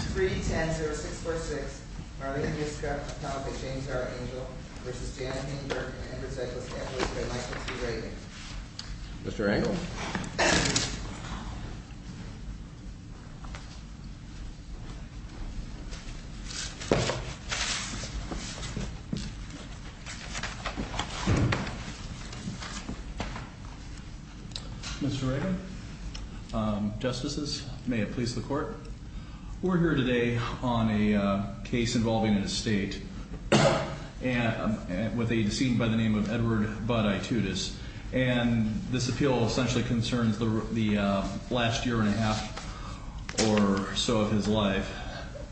310-0646, Marlene Yuska, Tomika James, Tara Angel, versus Janet Hainberg and Andrew Steglitz-Angel, listed by Michael T. Reagan. Mr. Angel? Mr. Reagan? Justices, may it please the Court. We're here today on a case involving an estate with a decedent by the name of Edward Budd Aitutis. And this appeal essentially concerns the last year and a half or so of his life.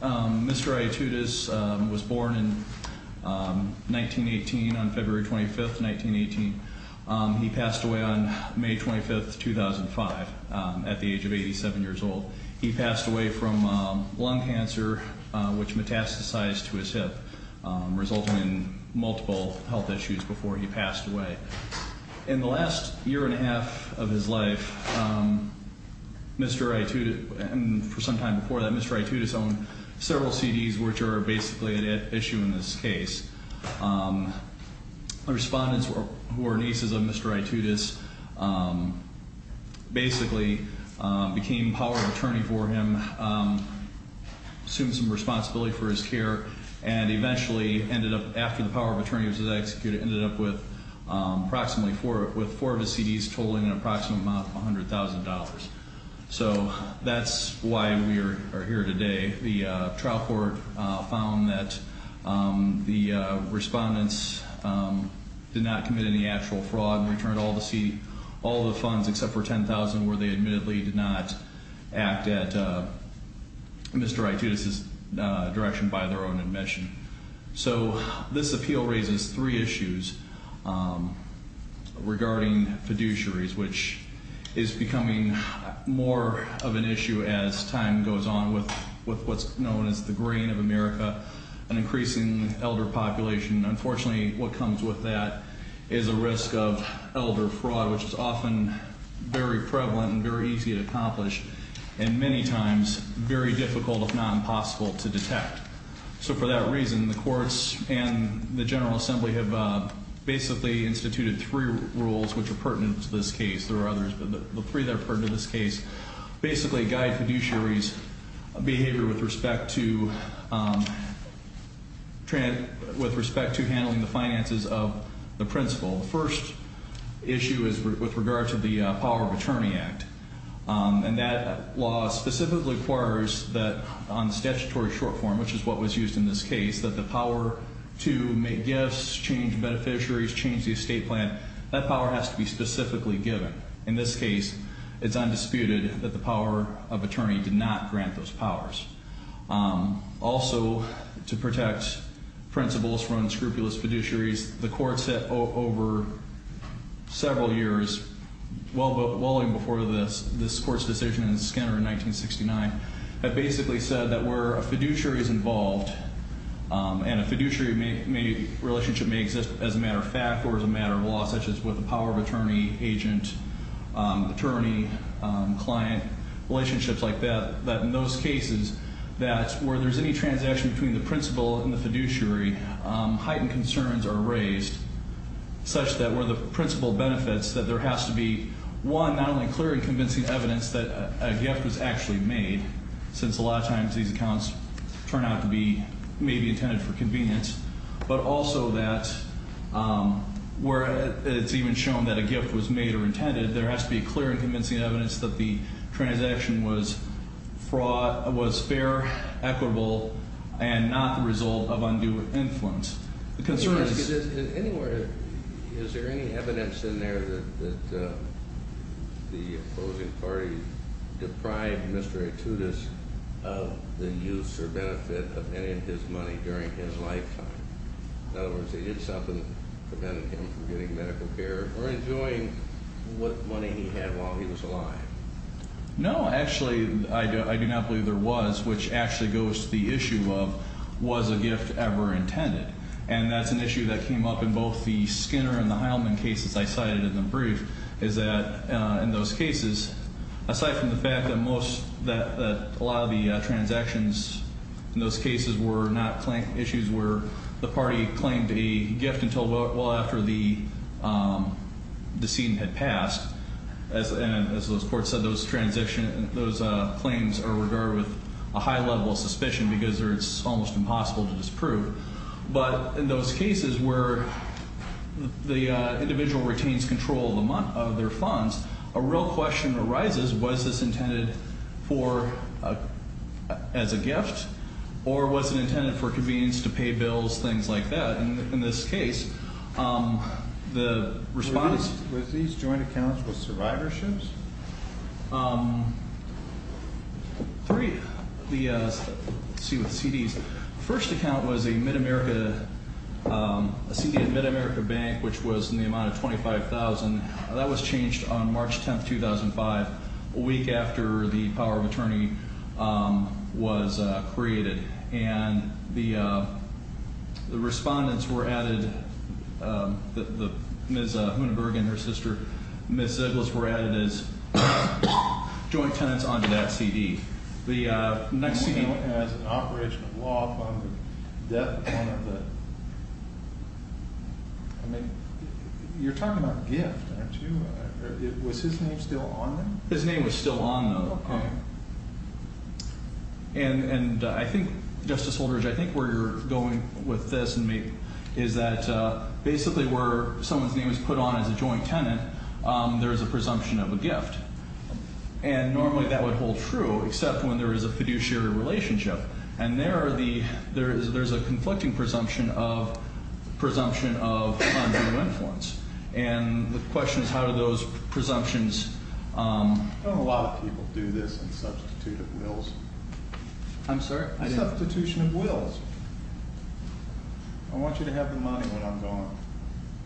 Mr. Aitutis was born in 1918 on February 25th, 1918. He passed away on May 25th, 2005 at the age of 87 years old. He passed away from lung cancer, which metastasized to his hip, resulting in multiple health issues before he passed away. In the last year and a half of his life, Mr. Aitutis, and for some time before that, Mr. Aitutis owned several CDs, which are basically an issue in this case. Respondents who are nieces of Mr. Aitutis basically became power of attorney for him, assumed some responsibility for his care, and eventually ended up, after the power of attorney was executed, ended up with approximately four of his CDs totaling an approximate amount of $100,000. So that's why we are here today. The trial court found that the respondents did not commit any actual fraud and returned all the funds except for $10,000 where they admittedly did not act at Mr. Aitutis' direction by their own admission. So this appeal raises three issues regarding fiduciaries, which is becoming more of an issue as time goes on with what's known as the grain of America, an increasing elder population. Unfortunately, what comes with that is a risk of elder fraud, which is often very prevalent and very easy to accomplish, and many times very difficult, if not impossible, to detect. So for that reason, the courts and the General Assembly have basically instituted three rules which are pertinent to this case. There are others, but the three that are pertinent to this case basically guide fiduciaries' behavior with respect to handling the finances of the principal. The first issue is with regard to the Power of Attorney Act, and that law specifically requires that on statutory short form, which is what was used in this case, that the power to make gifts, change beneficiaries, change the estate plan, that power has to be specifically given. In this case, it's undisputed that the power of attorney did not grant those powers. Also, to protect principals from unscrupulous fiduciaries, the courts over several years, well before this court's decision in Skinner in 1969, have basically said that where a fiduciary is involved, and a fiduciary relationship may exist as a matter of fact or as a matter of law, such as with the power of attorney, agent, attorney, client, relationships like that, that in those cases that where there's any transaction between the principal and the fiduciary, heightened concerns are raised such that where the principal benefits, that there has to be one, not only clear and convincing evidence that a gift was actually made, since a lot of times these accounts turn out to be maybe intended for convenience, but also that where it's even shown that a gift was made or intended, there has to be clear and convincing evidence that the transaction was fair, equitable, and not the result of undue influence. The concern is... Anywhere, is there any evidence in there that the opposing party deprived Mr. Etudis of the use or benefit of any of his money during his lifetime? In other words, they did something to prevent him from getting medical care or enjoying what money he had while he was alive. No, actually, I do not believe there was, which actually goes to the issue of, was a gift ever intended? And that's an issue that came up in both the Skinner and the Heilman cases I cited in the brief, is that in those cases, aside from the fact that a lot of the transactions in those cases were not issues where the party claimed a gift until well after the scene had passed, and as those courts said, those claims are regarded with a high level of suspicion because it's almost impossible to disprove. But in those cases where the individual retains control of their funds, a real question arises, was this intended as a gift or was it intended for convenience to pay bills, things like that? In this case, the response... Were these joint accounts with survivorships? Three. Let's see with the CDs. The first account was a Mid-America, a CD of Mid-America Bank, which was in the amount of $25,000. That was changed on March 10, 2005, a week after the power of attorney was created. And the respondents were added, Ms. Hunenberg and her sister, Ms. Ziggler, were added as joint tenants onto that CD. The next CD... You know, as an operation of law upon the death of one of the... I mean, you're talking about gift, aren't you? Was his name still on them? His name was still on them. Okay. And I think, Justice Holder, I think where you're going with this is that basically where someone's name is put on as a joint tenant, there is a presumption of a gift. And normally that would hold true, except when there is a fiduciary relationship. And there are the... There's a conflicting presumption of funds and influence. And the question is how do those presumptions... Don't a lot of people do this in substitute of wills? I'm sorry? Substitution of wills. I want you to have the money when I'm gone.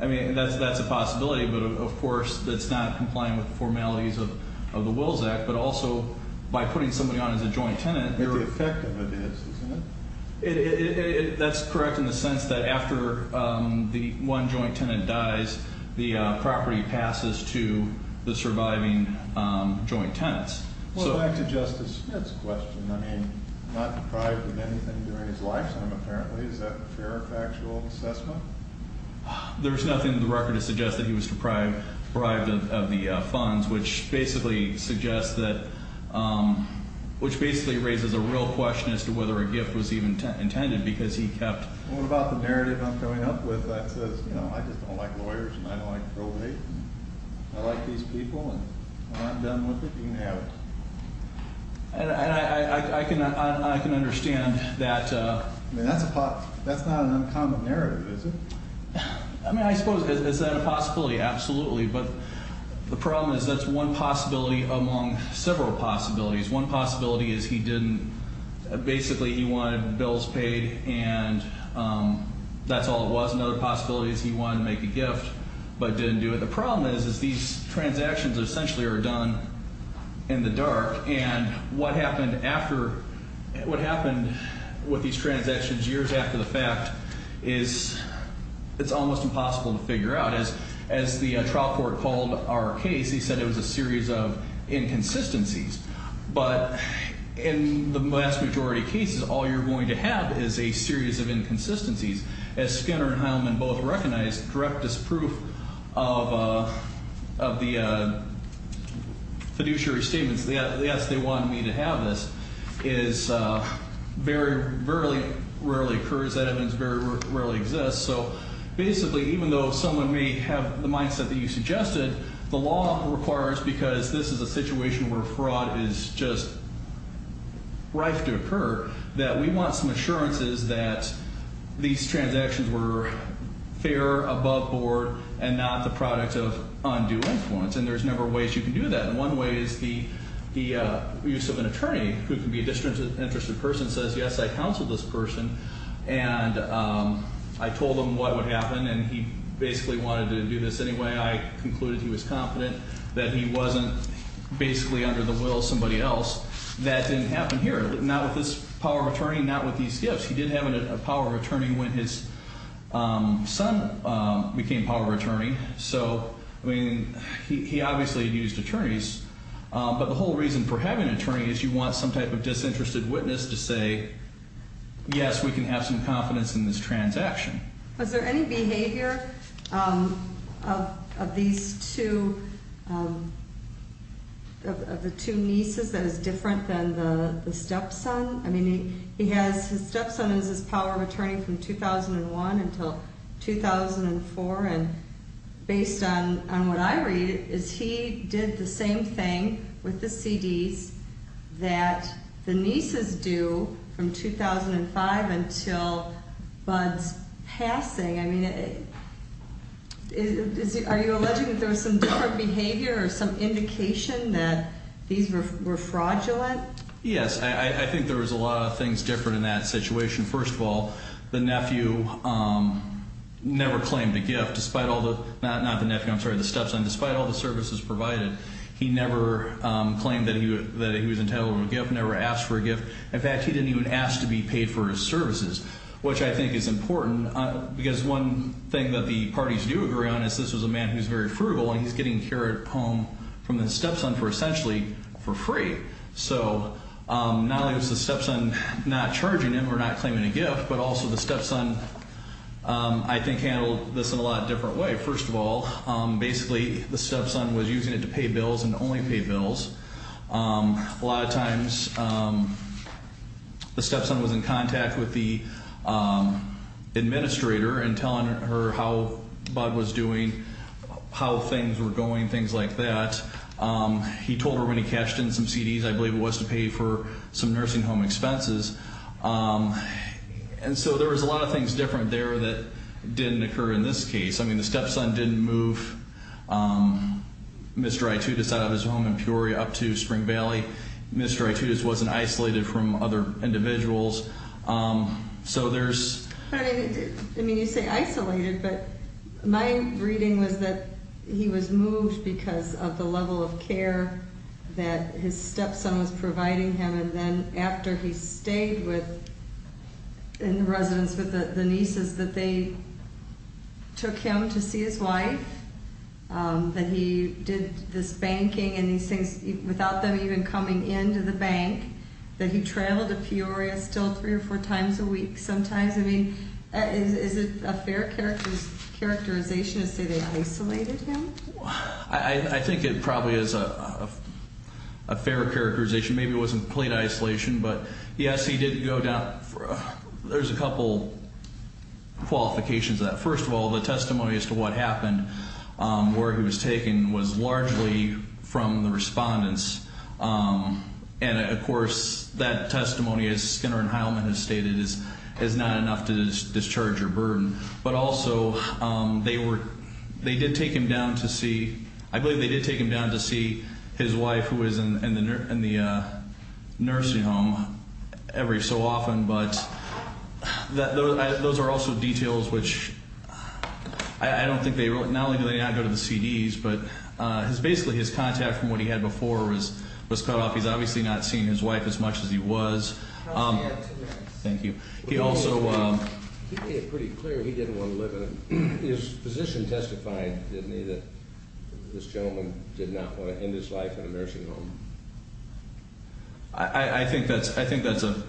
I mean, that's a possibility, but, of course, that's not complying with the formalities of the Wills Act. But also, by putting somebody on as a joint tenant... But the effect of it is, isn't it? That's correct in the sense that after the one joint tenant dies, the property passes to the surviving joint tenants. Well, back to Justice Smith's question. I mean, not deprived of anything during his lifetime, apparently. Is that fair factual assessment? There's nothing in the record that suggests that he was deprived of the funds, which basically suggests that... Which basically raises a real question as to whether a gift was even intended because he kept... What about the narrative I'm coming up with that says, you know, I just don't like lawyers and I don't like probate? I like these people and when I'm done with it, you can have it. And I can understand that... I mean, that's not an uncommon narrative, is it? I mean, I suppose, is that a possibility? Absolutely. But the problem is that's one possibility among several possibilities. One possibility is he didn't... Basically, he wanted bills paid and that's all it was. Another possibility is he wanted to make a gift but didn't do it. The problem is, is these transactions essentially are done in the dark. And what happened after... What happened with these transactions years after the fact is... It's almost impossible to figure out. As the trial court called our case, he said it was a series of inconsistencies. But in the vast majority of cases, all you're going to have is a series of inconsistencies. As Skinner and Heilman both recognized, direct disproof of the fiduciary statements, yes, they wanted me to have this, is very rarely occurs. That evidence very rarely exists. So basically, even though someone may have the mindset that you suggested, the law requires, because this is a situation where fraud is just rife to occur, that we want some assurances that these transactions were fair, above board, and not the product of undue influence. And there's a number of ways you can do that. And one way is the use of an attorney, who can be a disinterested person, says, yes, I counseled this person, and I told him what would happen, and he basically wanted to do this anyway. I concluded he was confident that he wasn't basically under the will of somebody else. That didn't happen here, not with this power of attorney, not with these gifts. He did have a power of attorney when his son became power of attorney. So, I mean, he obviously used attorneys. But the whole reason for having an attorney is you want some type of disinterested witness to say, yes, we can have some confidence in this transaction. Was there any behavior of these two, of the two nieces, that is different than the stepson? I mean, he has his stepson as his power of attorney from 2001 until 2004. And based on what I read is he did the same thing with the CDs that the nieces do from 2005 until Bud's passing. I mean, are you alleging that there was some different behavior or some indication that these were fraudulent? Yes, I think there was a lot of things different in that situation. First of all, the nephew never claimed a gift, not the nephew, I'm sorry, the stepson. Despite all the services provided, he never claimed that he was entitled to a gift, never asked for a gift. In fact, he didn't even ask to be paid for his services, which I think is important, because one thing that the parties do agree on is this was a man who was very frugal, and he's getting care at home from his stepson for essentially for free. So not only was the stepson not charging him or not claiming a gift, but also the stepson I think handled this in a lot of different ways. First of all, basically the stepson was using it to pay bills and only pay bills. A lot of times the stepson was in contact with the administrator and telling her how Bud was doing, how things were going, things like that. He told her when he cashed in some CDs I believe it was to pay for some nursing home expenses. And so there was a lot of things different there that didn't occur in this case. I mean, the stepson didn't move Mr. Itoudis out of his home in Peoria up to Spring Valley. Mr. Itoudis wasn't isolated from other individuals. I mean, you say isolated, but my reading was that he was moved because of the level of care that his stepson was providing him. And then after he stayed in residence with the nieces, that they took him to see his wife, that he did this banking and these things without them even coming into the bank, that he traveled to Peoria still three or four times a week sometimes. I mean, is it a fair characterization to say they isolated him? I think it probably is a fair characterization. Maybe it wasn't complete isolation, but yes, he did go down. There's a couple qualifications to that. First of all, the testimony as to what happened, where he was taken, was largely from the respondents. And, of course, that testimony, as Skinner and Heilman have stated, is not enough to discharge your burden. But also they did take him down to see, I believe they did take him down to see his wife, who was in the nursing home every so often. But those are also details which I don't think they wrote. Not only do they not go to the CDs, but basically his contact from what he had before was cut off. He's obviously not seen his wife as much as he was. Thank you. He also made it pretty clear he didn't want to live with him. His physician testified, didn't he, that this gentleman did not want to end his life in a nursing home. I think that's a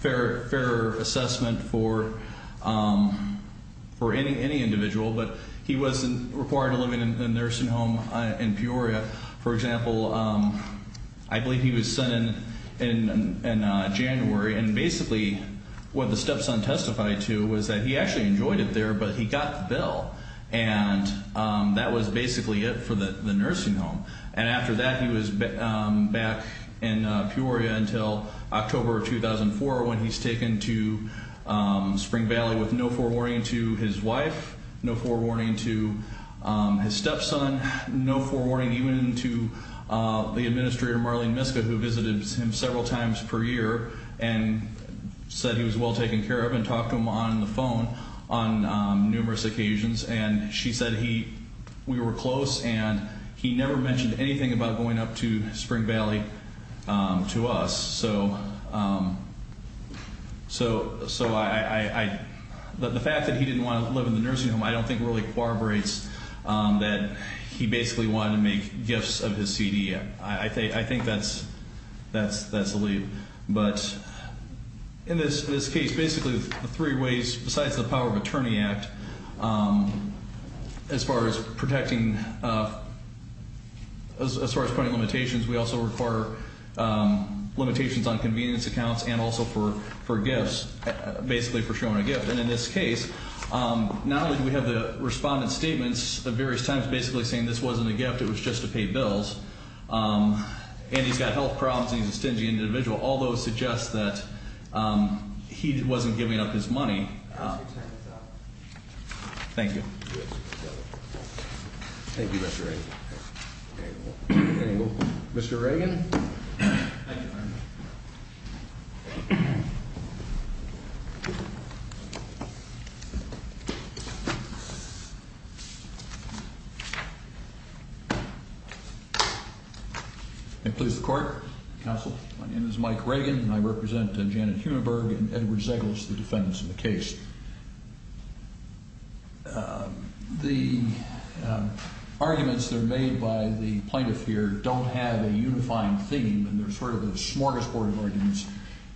fair assessment for any individual. But he wasn't required to live in a nursing home in Peoria. For example, I believe he was sent in January. And basically what the stepson testified to was that he actually enjoyed it there, but he got the bill. And that was basically it for the nursing home. And after that he was back in Peoria until October of 2004 when he was taken to Spring Valley with no forewarning to his wife, no forewarning to his stepson, no forewarning even to the administrator, Marlene Miska, who visited him several times per year and said he was well taken care of and talked to him on the phone on numerous occasions. And she said we were close and he never mentioned anything about going up to Spring Valley to us. So the fact that he didn't want to live in the nursing home I don't think really corroborates that he basically wanted to make gifts of his CDM. I think that's the lead. But in this case, basically the three ways besides the power of attorney act as far as protecting, as far as putting limitations, we also require limitations on convenience accounts and also for gifts, basically for showing a gift. And in this case, not only do we have the respondent's statements at various times basically saying this wasn't a gift, it was just to pay bills, and he's got health problems and he's a stingy individual. All those suggest that he wasn't giving up his money. Thank you. Thank you, Mr. Reagan. Mr. Reagan? May it please the court, counsel. My name is Mike Reagan and I represent Janet Humenberg and Edward Zegles, the defendants in the case. The arguments that are made by the plaintiff here don't have a unifying theme and they're sort of the smorgasbord of arguments,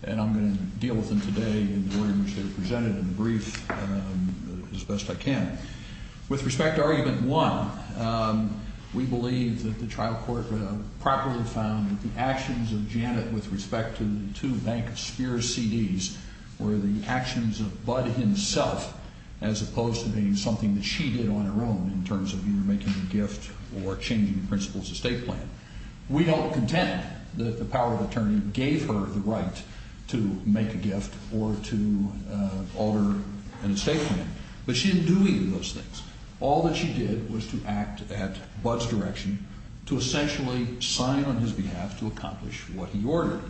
and I'm going to deal with them today in the way in which they were presented in the brief as best I can. With respect to argument one, we believe that the trial court properly found that the actions of Janet with respect to the two Bank of Spears CDs were the actions of Bud himself as opposed to being something that she did on her own in terms of either making a gift or changing the principles of the state plan. We don't contend that the power of attorney gave her the right to make a gift or to alter an estate plan, but she didn't do any of those things. All that she did was to act at Bud's direction to essentially sign on his behalf to accomplish what he ordered.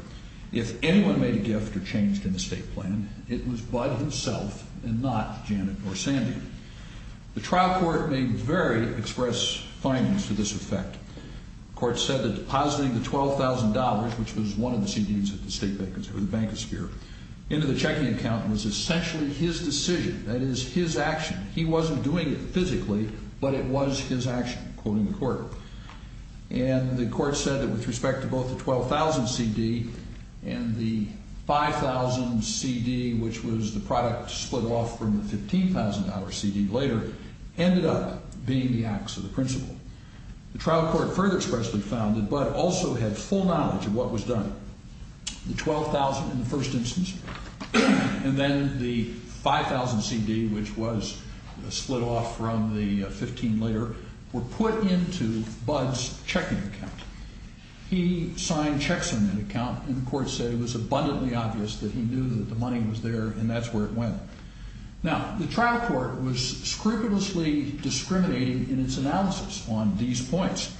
If anyone made a gift or changed an estate plan, it was Bud himself and not Janet or Sandy. The trial court made very express findings to this effect. The court said that depositing the $12,000, which was one of the CDs at the Bank of Spears, into the checking account was essentially his decision, that is, his action. He wasn't doing it physically, but it was his action, quoting the court. And the court said that with respect to both the $12,000 CD and the $5,000 CD, which was the product split off from the $15,000 CD later, ended up being the acts of the principal. The trial court further expressly found that Bud also had full knowledge of what was done. The $12,000 in the first instance, and then the $5,000 CD, which was split off from the $15,000 later, were put into Bud's checking account. He signed checks in that account, and the court said it was abundantly obvious that he knew that the money was there, and that's where it went. Now, the trial court was scrupulously discriminating in its analysis on these points,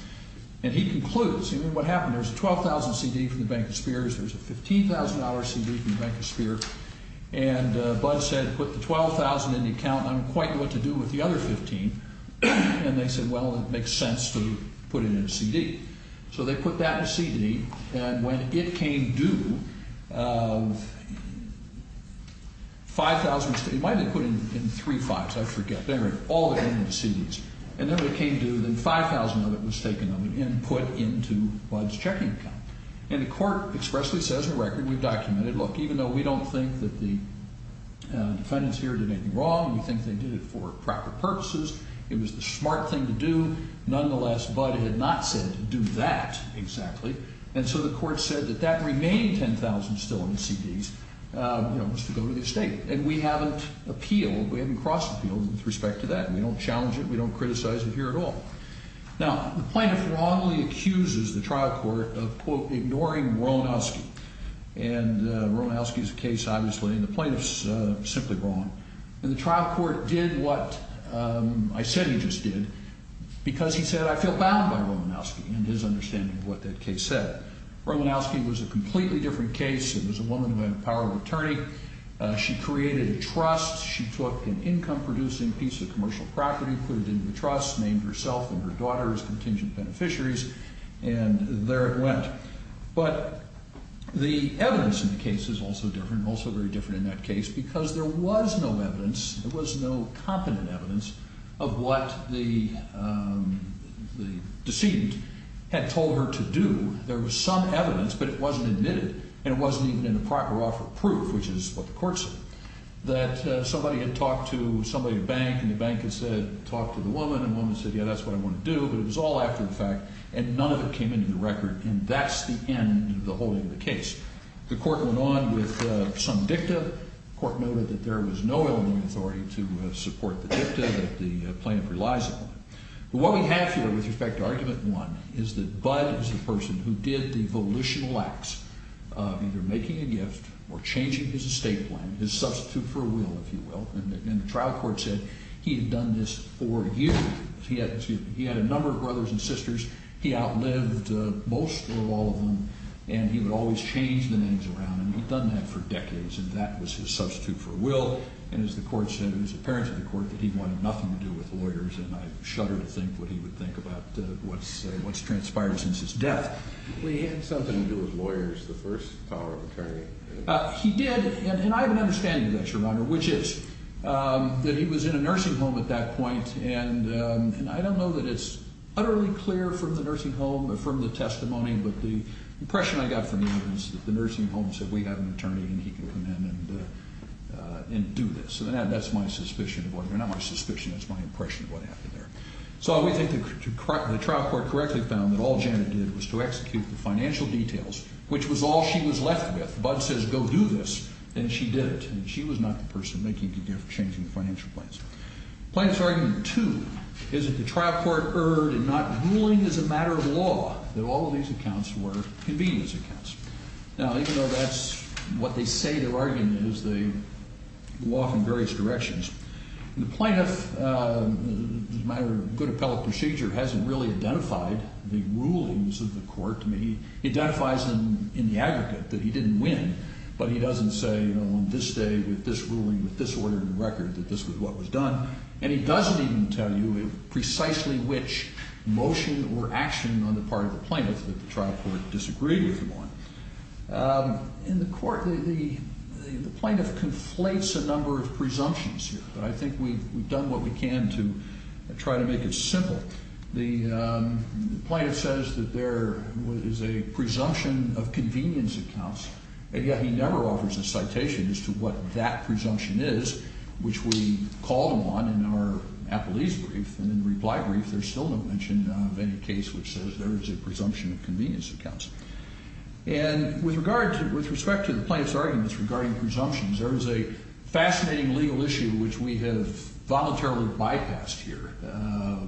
and he concludes, you know, what happened, there's a $12,000 CD from the Bank of Spears, there's a $15,000 CD from the Bank of Spears, and Bud said, put the $12,000 in the account, I don't quite know what to do with the other $15,000, and they said, well, it makes sense to put it in a CD. So they put that in a CD, and when it came due, $5,000, it might have been put in three fives, I forget, and then when it came due, then $5,000 of it was taken and put into Bud's checking account. And the court expressly says in the record, we've documented, look, even though we don't think that the defendants here did anything wrong, we think they did it for proper purposes, it was the smart thing to do, nonetheless, Bud had not said to do that exactly, and so the court said that that remaining $10,000 still in the CDs, you know, was to go to the estate. And we haven't appealed, we haven't crossed the field with respect to that. We don't challenge it, we don't criticize it here at all. Now, the plaintiff wrongly accuses the trial court of, quote, ignoring Romanowski, and Romanowski's case, obviously, and the plaintiff's simply wrong. And the trial court did what I said he just did, because he said, I feel bound by Romanowski, and his understanding of what that case said. Romanowski was a completely different case, it was a woman who had the power of attorney, she created a trust, she took an income-producing piece of commercial property, put it into the trust, named herself and her daughter as contingent beneficiaries, and there it went. But the evidence in the case is also different, also very different in that case, because there was no evidence, there was no competent evidence of what the decedent had told her to do. There was some evidence, but it wasn't admitted, and it wasn't even in the proper offer of proof, which is what the court said. That somebody had talked to somebody at a bank, and the bank had said, talk to the woman, and the woman said, yeah, that's what I want to do, but it was all after the fact, and none of it came into the record, and that's the end of the whole end of the case. The court went on with some dicta, the court noted that there was no Illinois authority to support the dicta that the plaintiff relies upon. What we have here with respect to Argument 1 is that Budd was the person who did the volitional acts of either making a gift or changing his estate plan, his substitute for a will, if you will, and the trial court said he had done this for years. He had a number of brothers and sisters. He outlived most of all of them, and he would always change the names around, and he'd done that for decades, and that was his substitute for a will, and as the court said, it was apparent to the court that he wanted nothing to do with lawyers, and I shudder to think what he would think about what's transpired since his death. He had something to do with lawyers, the first power of attorney. He did, and I have an understanding of that, Your Honor, which is that he was in a nursing home at that point, and I don't know that it's utterly clear from the nursing home or from the testimony, but the impression I got from him was that the nursing home said, we have an attorney, and he can come in and do this. That's my suspicion. Well, not my suspicion. That's my impression of what happened there. So we think the trial court correctly found that all Janet did was to execute the financial details, which was all she was left with. Bud says, go do this, and she did it, and she was not the person making the difference, changing the financial plans. Plaintiff's argument two is that the trial court erred in not ruling as a matter of law that all of these accounts were convenience accounts. Now, even though that's what they say their argument is, they walk in various directions. The plaintiff, as a matter of good appellate procedure, hasn't really identified the rulings of the court. I mean, he identifies them in the aggregate that he didn't win, but he doesn't say, you know, on this day, with this ruling, with this order in the record, that this was what was done, and he doesn't even tell you precisely which motion or action on the part of the plaintiff that the trial court disagreed with him on. In the court, the plaintiff conflates a number of presumptions here, but I think we've done what we can to try to make it simple. The plaintiff says that there is a presumption of convenience accounts, and yet he never offers a citation as to what that presumption is, which we called on in our appellees' brief, and in the reply brief, there's still no mention of any case which says there is a presumption of convenience accounts. And with respect to the plaintiff's arguments regarding presumptions, there is a fascinating legal issue which we have voluntarily bypassed here,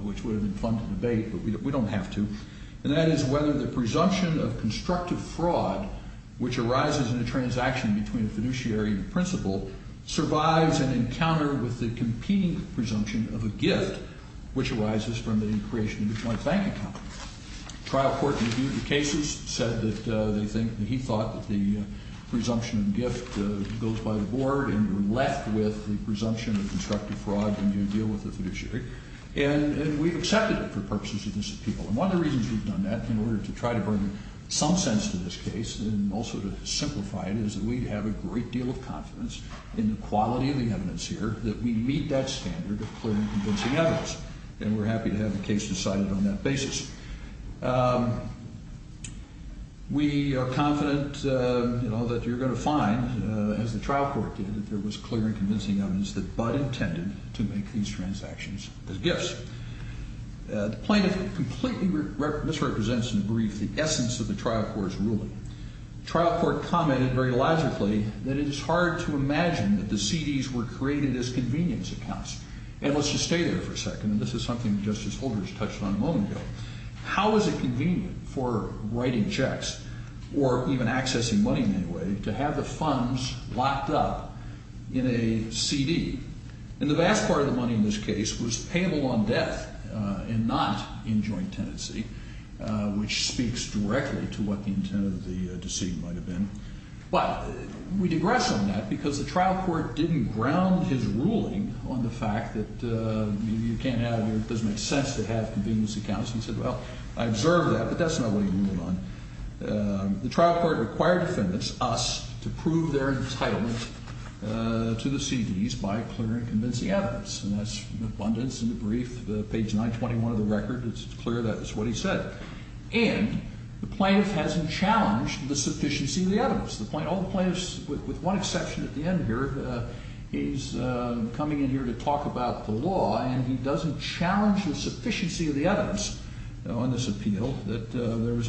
which would have been fun to debate, but we don't have to, and that is whether the presumption of constructive fraud, which arises in a transaction between a fiduciary and a principal, survives an encounter with the competing presumption of a gift, which arises from the creation of a joint bank account. Trial court reviewed the cases, said that they think, that he thought that the presumption of gift goes by the board, and we're left with the presumption of constructive fraud when you deal with a fiduciary, and we've accepted it for purposes of this appeal. And one of the reasons we've done that, in order to try to bring some sense to this case, and also to simplify it, is that we have a great deal of confidence in the quality of the evidence here, that we meet that standard of clear and convincing evidence, and we're happy to have the case decided on that basis. We are confident, you know, that you're going to find, as the trial court did, that there was clear and convincing evidence that Budd intended to make these transactions as gifts. The plaintiff completely misrepresents in the brief the essence of the trial court's ruling. Trial court commented very logically that it is hard to imagine that the CDs were created as convenience accounts. And let's just stay there for a second, and this is something that Justice Holder has touched on a moment ago. How is it convenient for writing checks, or even accessing money in any way, to have the funds locked up in a CD? And the vast part of the money in this case was payable on death, and not in joint tenancy, which speaks directly to what the intent of the decision might have been. But we digress on that, because the trial court didn't ground his ruling on the fact that you can't have, it doesn't make sense to have convenience accounts, and said, well, I observed that, but that's not what he ruled on. The trial court required defendants, us, to prove their entitlement to the CDs by clear and convincing evidence, and that's abundance in the brief, page 921 of the record, it's clear that's what he said. And the plaintiff hasn't challenged the sufficiency of the evidence. All the plaintiffs, with one exception at the end here, he's coming in here to talk about the law, and he doesn't challenge the sufficiency of the evidence on this appeal that there was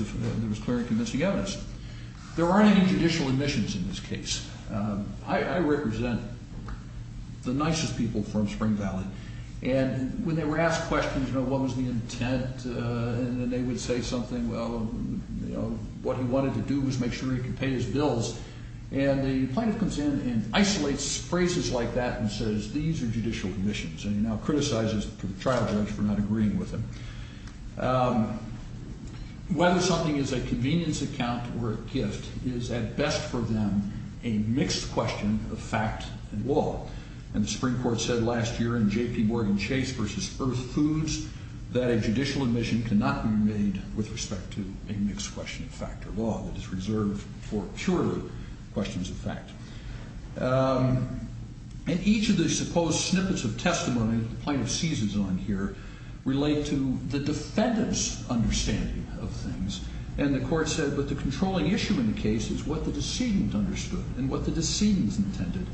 clear and convincing evidence. There aren't any judicial admissions in this case. I represent the nicest people from Spring Valley. And when they were asked questions, you know, what was the intent, and then they would say something, well, you know, what he wanted to do was make sure he could pay his bills, and the plaintiff comes in and isolates phrases like that and says, these are judicial admissions, and he now criticizes the trial judge for not agreeing with him. Whether something is a convenience account or a gift is, at best for them, a mixed question of fact and law. And the Supreme Court said last year in J.P. Morgan Chase v. Earth Foods that a judicial admission cannot be made with respect to a mixed question of fact or law that is reserved for purely questions of fact. And each of the supposed snippets of testimony that the plaintiff seizes on here relate to the defendant's understanding of things. And the court said, but the controlling issue in the case is what the decedent understood and what the decedent intended,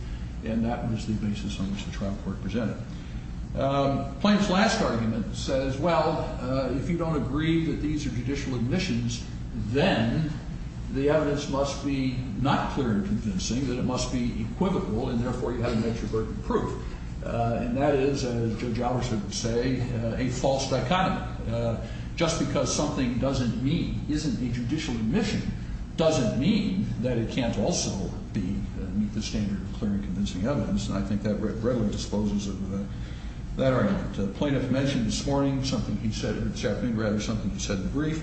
and that was the basis on which the trial court presented. The plaintiff's last argument says, well, if you don't agree that these are judicial admissions, then the evidence must be not clear and convincing, that it must be equivocal, and therefore you have an extroverted proof. And that is, as Judge Albertson would say, a false dichotomy. Just because something doesn't meet, isn't a judicial admission, doesn't mean that it can't also meet the standard of clear and convincing evidence. And I think that readily disposes of that argument. The plaintiff mentioned this morning something he said, or this afternoon rather, something he said in the brief,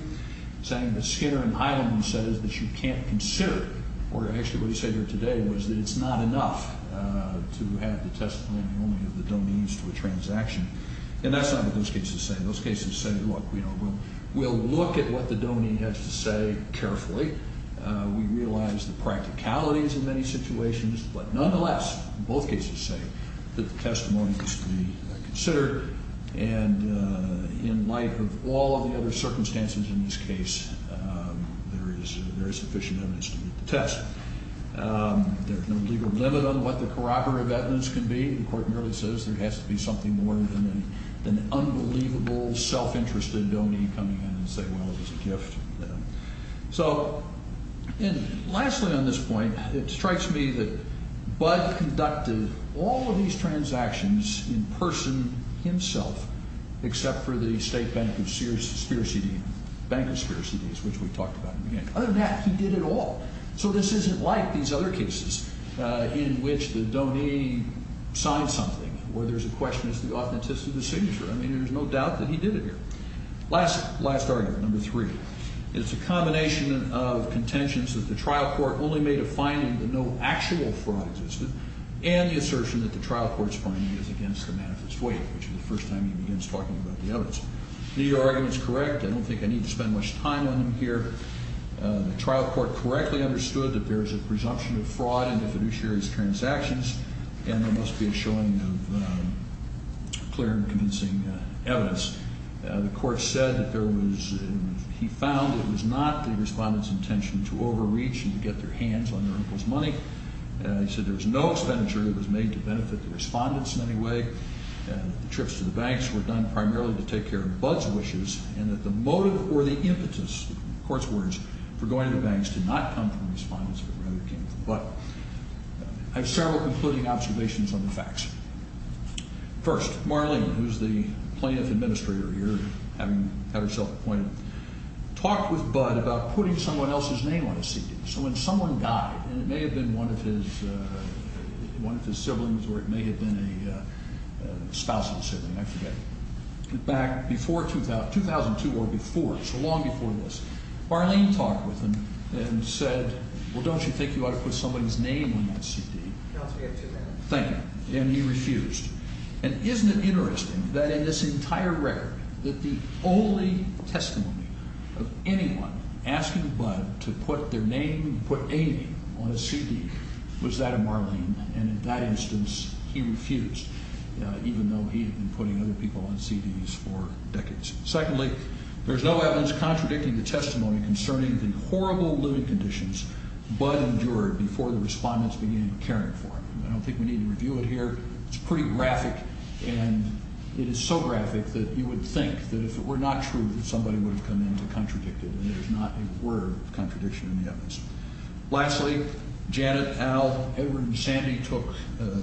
saying that Skinner and Hyland says that you can't consider, or actually what he said here today, was that it's not enough to have the testimony only of the donees to a transaction. And that's not what those cases say. Those cases say, look, we'll look at what the donee has to say carefully. We realize the practicalities of many situations. But nonetheless, both cases say that the testimony must be considered. And in light of all of the other circumstances in this case, there is sufficient evidence to meet the test. There's no legal limit on what the corroborative evidence can be. The court merely says there has to be something more than an unbelievable self-interested donee coming in and saying, well, it was a gift. So, and lastly on this point, it strikes me that Budd conducted all of these transactions in person himself, except for the State Bank of Spears CD, Bank of Spears CDs, which we talked about in the beginning. Other than that, he did it all. So this isn't like these other cases in which the donee signed something, where there's a question as to the authenticity of the signature. I mean, there's no doubt that he did it here. Last argument, number three. It's a combination of contentions that the trial court only made a finding that no actual fraud existed, and the assertion that the trial court's finding is against the manifest way, which is the first time he begins talking about the evidence. I think your argument is correct. I don't think I need to spend much time on them here. The trial court correctly understood that there is a presumption of fraud in the fiduciary's transactions, and there must be a showing of clear and convincing evidence. The court said that he found it was not the respondent's intention to overreach and to get their hands on their uncle's money. He said there was no expenditure that was made to benefit the respondents in any way. The trips to the banks were done primarily to take care of Budd's wishes, and that the motive or the impetus, the court's words, for going to the banks did not come from the respondents, but rather came from Budd. I have several concluding observations on the facts. First, Marlene, who's the plaintiff administrator here, having had herself appointed, talked with Budd about putting someone else's name on a CD. So when someone died, and it may have been one of his siblings or it may have been a spousal sibling, I forget, back before 2002 or before, so long before this, Marlene talked with him and said, well, don't you think you ought to put somebody's name on that CD? Thank you. And he refused. And isn't it interesting that in this entire record that the only testimony of anyone asking Budd to put their name, put a name on a CD, was that of Marlene, and in that instance he refused, even though he had been putting other people on CDs for decades. Secondly, there's no evidence contradicting the testimony concerning the horrible living conditions Budd endured before the respondents began caring for him. I don't think we need to review it here. It's pretty graphic, and it is so graphic that you would think that if it were not true, that somebody would have come in to contradict it, and there is not a word of contradiction in the evidence. Lastly, Janet, Al, Edward, and Sandy took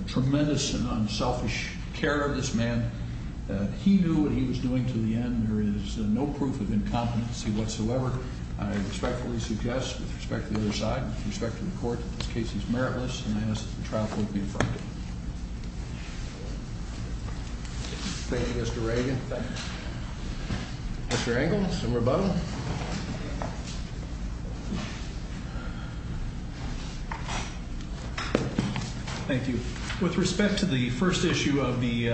tremendous and unselfish care of this man. He knew what he was doing to the end. There is no proof of incompetency whatsoever. I respectfully suggest, with respect to the other side, with respect to the court, that this case is meritless, and I ask that the trial court be affirmed. Thank you, Mr. Reagan. Thank you. Mr. Engle, some rebuttal. Thank you. With respect to the first issue of the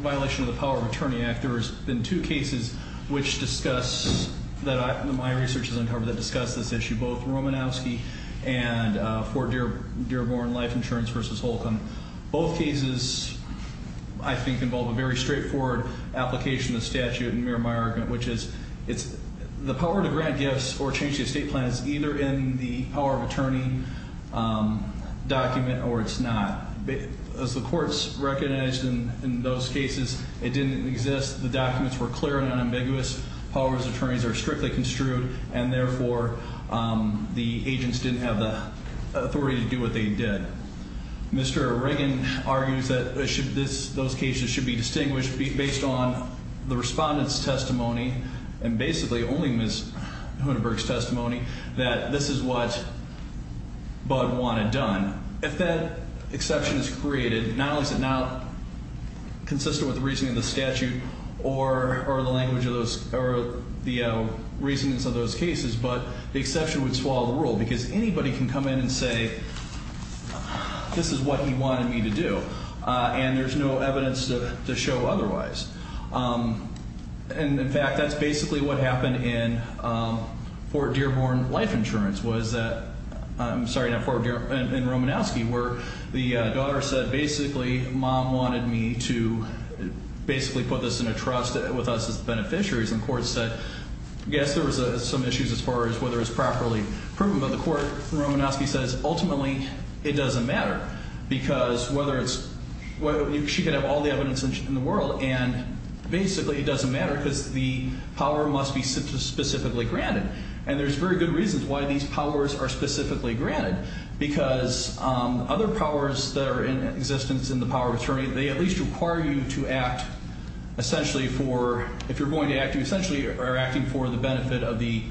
violation of the Power of Attorney Act, there has been two cases which discuss, that my research has uncovered, that discuss this issue, both Romanowski and Fort Dearborn Life Insurance v. Holcomb. Both cases, I think, involve a very straightforward application of the statute and mirror my argument, which is the power to grant gifts or change the estate plan is either in the Power of Attorney document or it's not. As the courts recognized in those cases, it didn't exist. The documents were clear and unambiguous. Power of Attorneys are strictly construed, and therefore, the agents didn't have the authority to do what they did. Mr. Reagan argues that those cases should be distinguished based on the respondent's testimony, and basically only Ms. Hundenburg's testimony, that this is what Bud Wan had done. If that exception is created, not only is it not consistent with the reasoning of the statute or the language of those, or the reasonings of those cases, but the exception would swallow the rule because anybody can come in and say, this is what he wanted me to do, and there's no evidence to show otherwise. And, in fact, that's basically what happened in Fort Dearborn Life Insurance was that – I'm sorry, not Fort, in Romanowski, where the daughter said, basically, Mom wanted me to basically put this in a trust with us as beneficiaries, and the court said, yes, there was some issues as far as whether it's properly proven, but the court, Romanowski says, ultimately, it doesn't matter because whether it's – she could have all the evidence in the world, and basically it doesn't matter because the power must be specifically granted. And there's very good reasons why these powers are specifically granted because other powers that are in existence in the power of attorney, they at least require you to act essentially for – if you're going to act, you essentially are acting for the benefit of the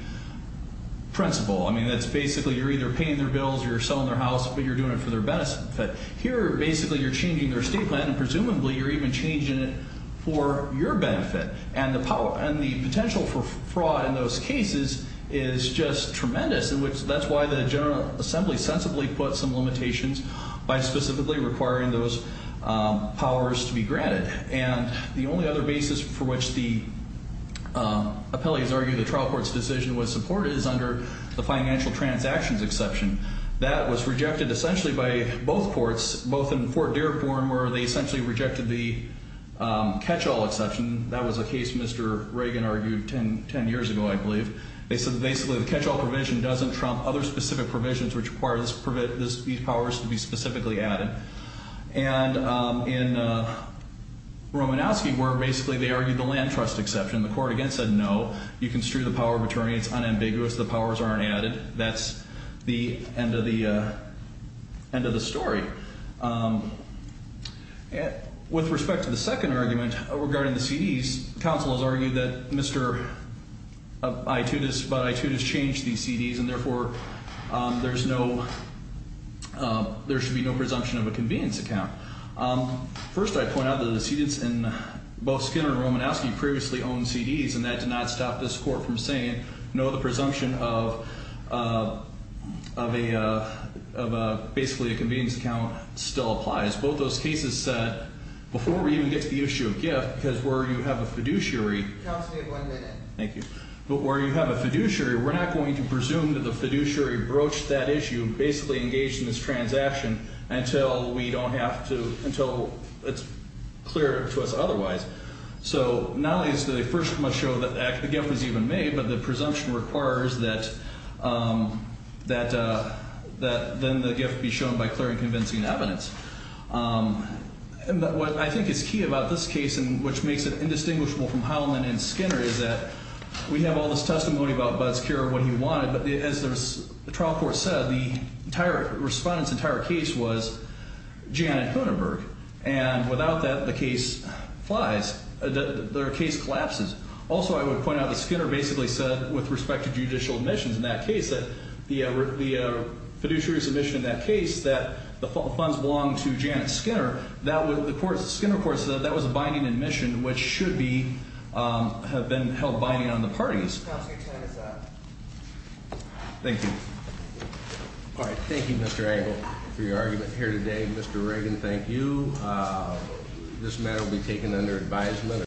principal. I mean, that's basically you're either paying their bills or you're selling their house, but you're doing it for their benefit. Here, basically, you're changing their statement, and presumably you're even changing it for your benefit. And the potential for fraud in those cases is just tremendous, and that's why the General Assembly sensibly put some limitations by specifically requiring those powers to be granted. And the only other basis for which the appellees argue the trial court's decision was supported is under the financial transactions exception. That was rejected essentially by both courts, both in Fort Dearborn, where they essentially rejected the catch-all exception. That was a case Mr. Reagan argued 10 years ago, I believe. They said basically the catch-all provision doesn't trump other specific provisions which require these powers to be specifically added. And in Romanowski, where basically they argued the land trust exception, the court again said no, you construe the power of attorney, it's unambiguous, the powers aren't added. That's the end of the story. With respect to the second argument regarding the CDs, counsel has argued that Mr. Itoudis about Itoudis changed these CDs, and therefore there should be no presumption of a convenience account. First, I point out that the decedents in both Skinner and Romanowski previously owned CDs, and that did not stop this court from saying no, the presumption of basically a convenience account still applies. Both those cases said before we even get to the issue of gift, because where you have a fiduciary. Counsel, you have one minute. Thank you. But where you have a fiduciary, we're not going to presume that the fiduciary broached that issue, basically engaged in this transaction until it's clear to us otherwise. So not only does the first one show that the gift was even made, but the presumption requires that then the gift be shown by clear and convincing evidence. What I think is key about this case, and which makes it indistinguishable from Heilman and Skinner, is that we have all this testimony about Bud's care of what he wanted, but as the trial court said, the entire respondent's entire case was Janet Hunenberg, and without that, the case collapses. Also, I would point out that Skinner basically said, with respect to judicial admissions in that case, that the fiduciary submission in that case that the funds belonged to Janet Skinner, the Skinner court said that was a binding admission, which should have been held binding on the parties. Counsel, your time is up. Thank you. All right. Thank you, Mr. Engel, for your argument here today. Mr. Reagan, thank you. This matter will be taken under advisement.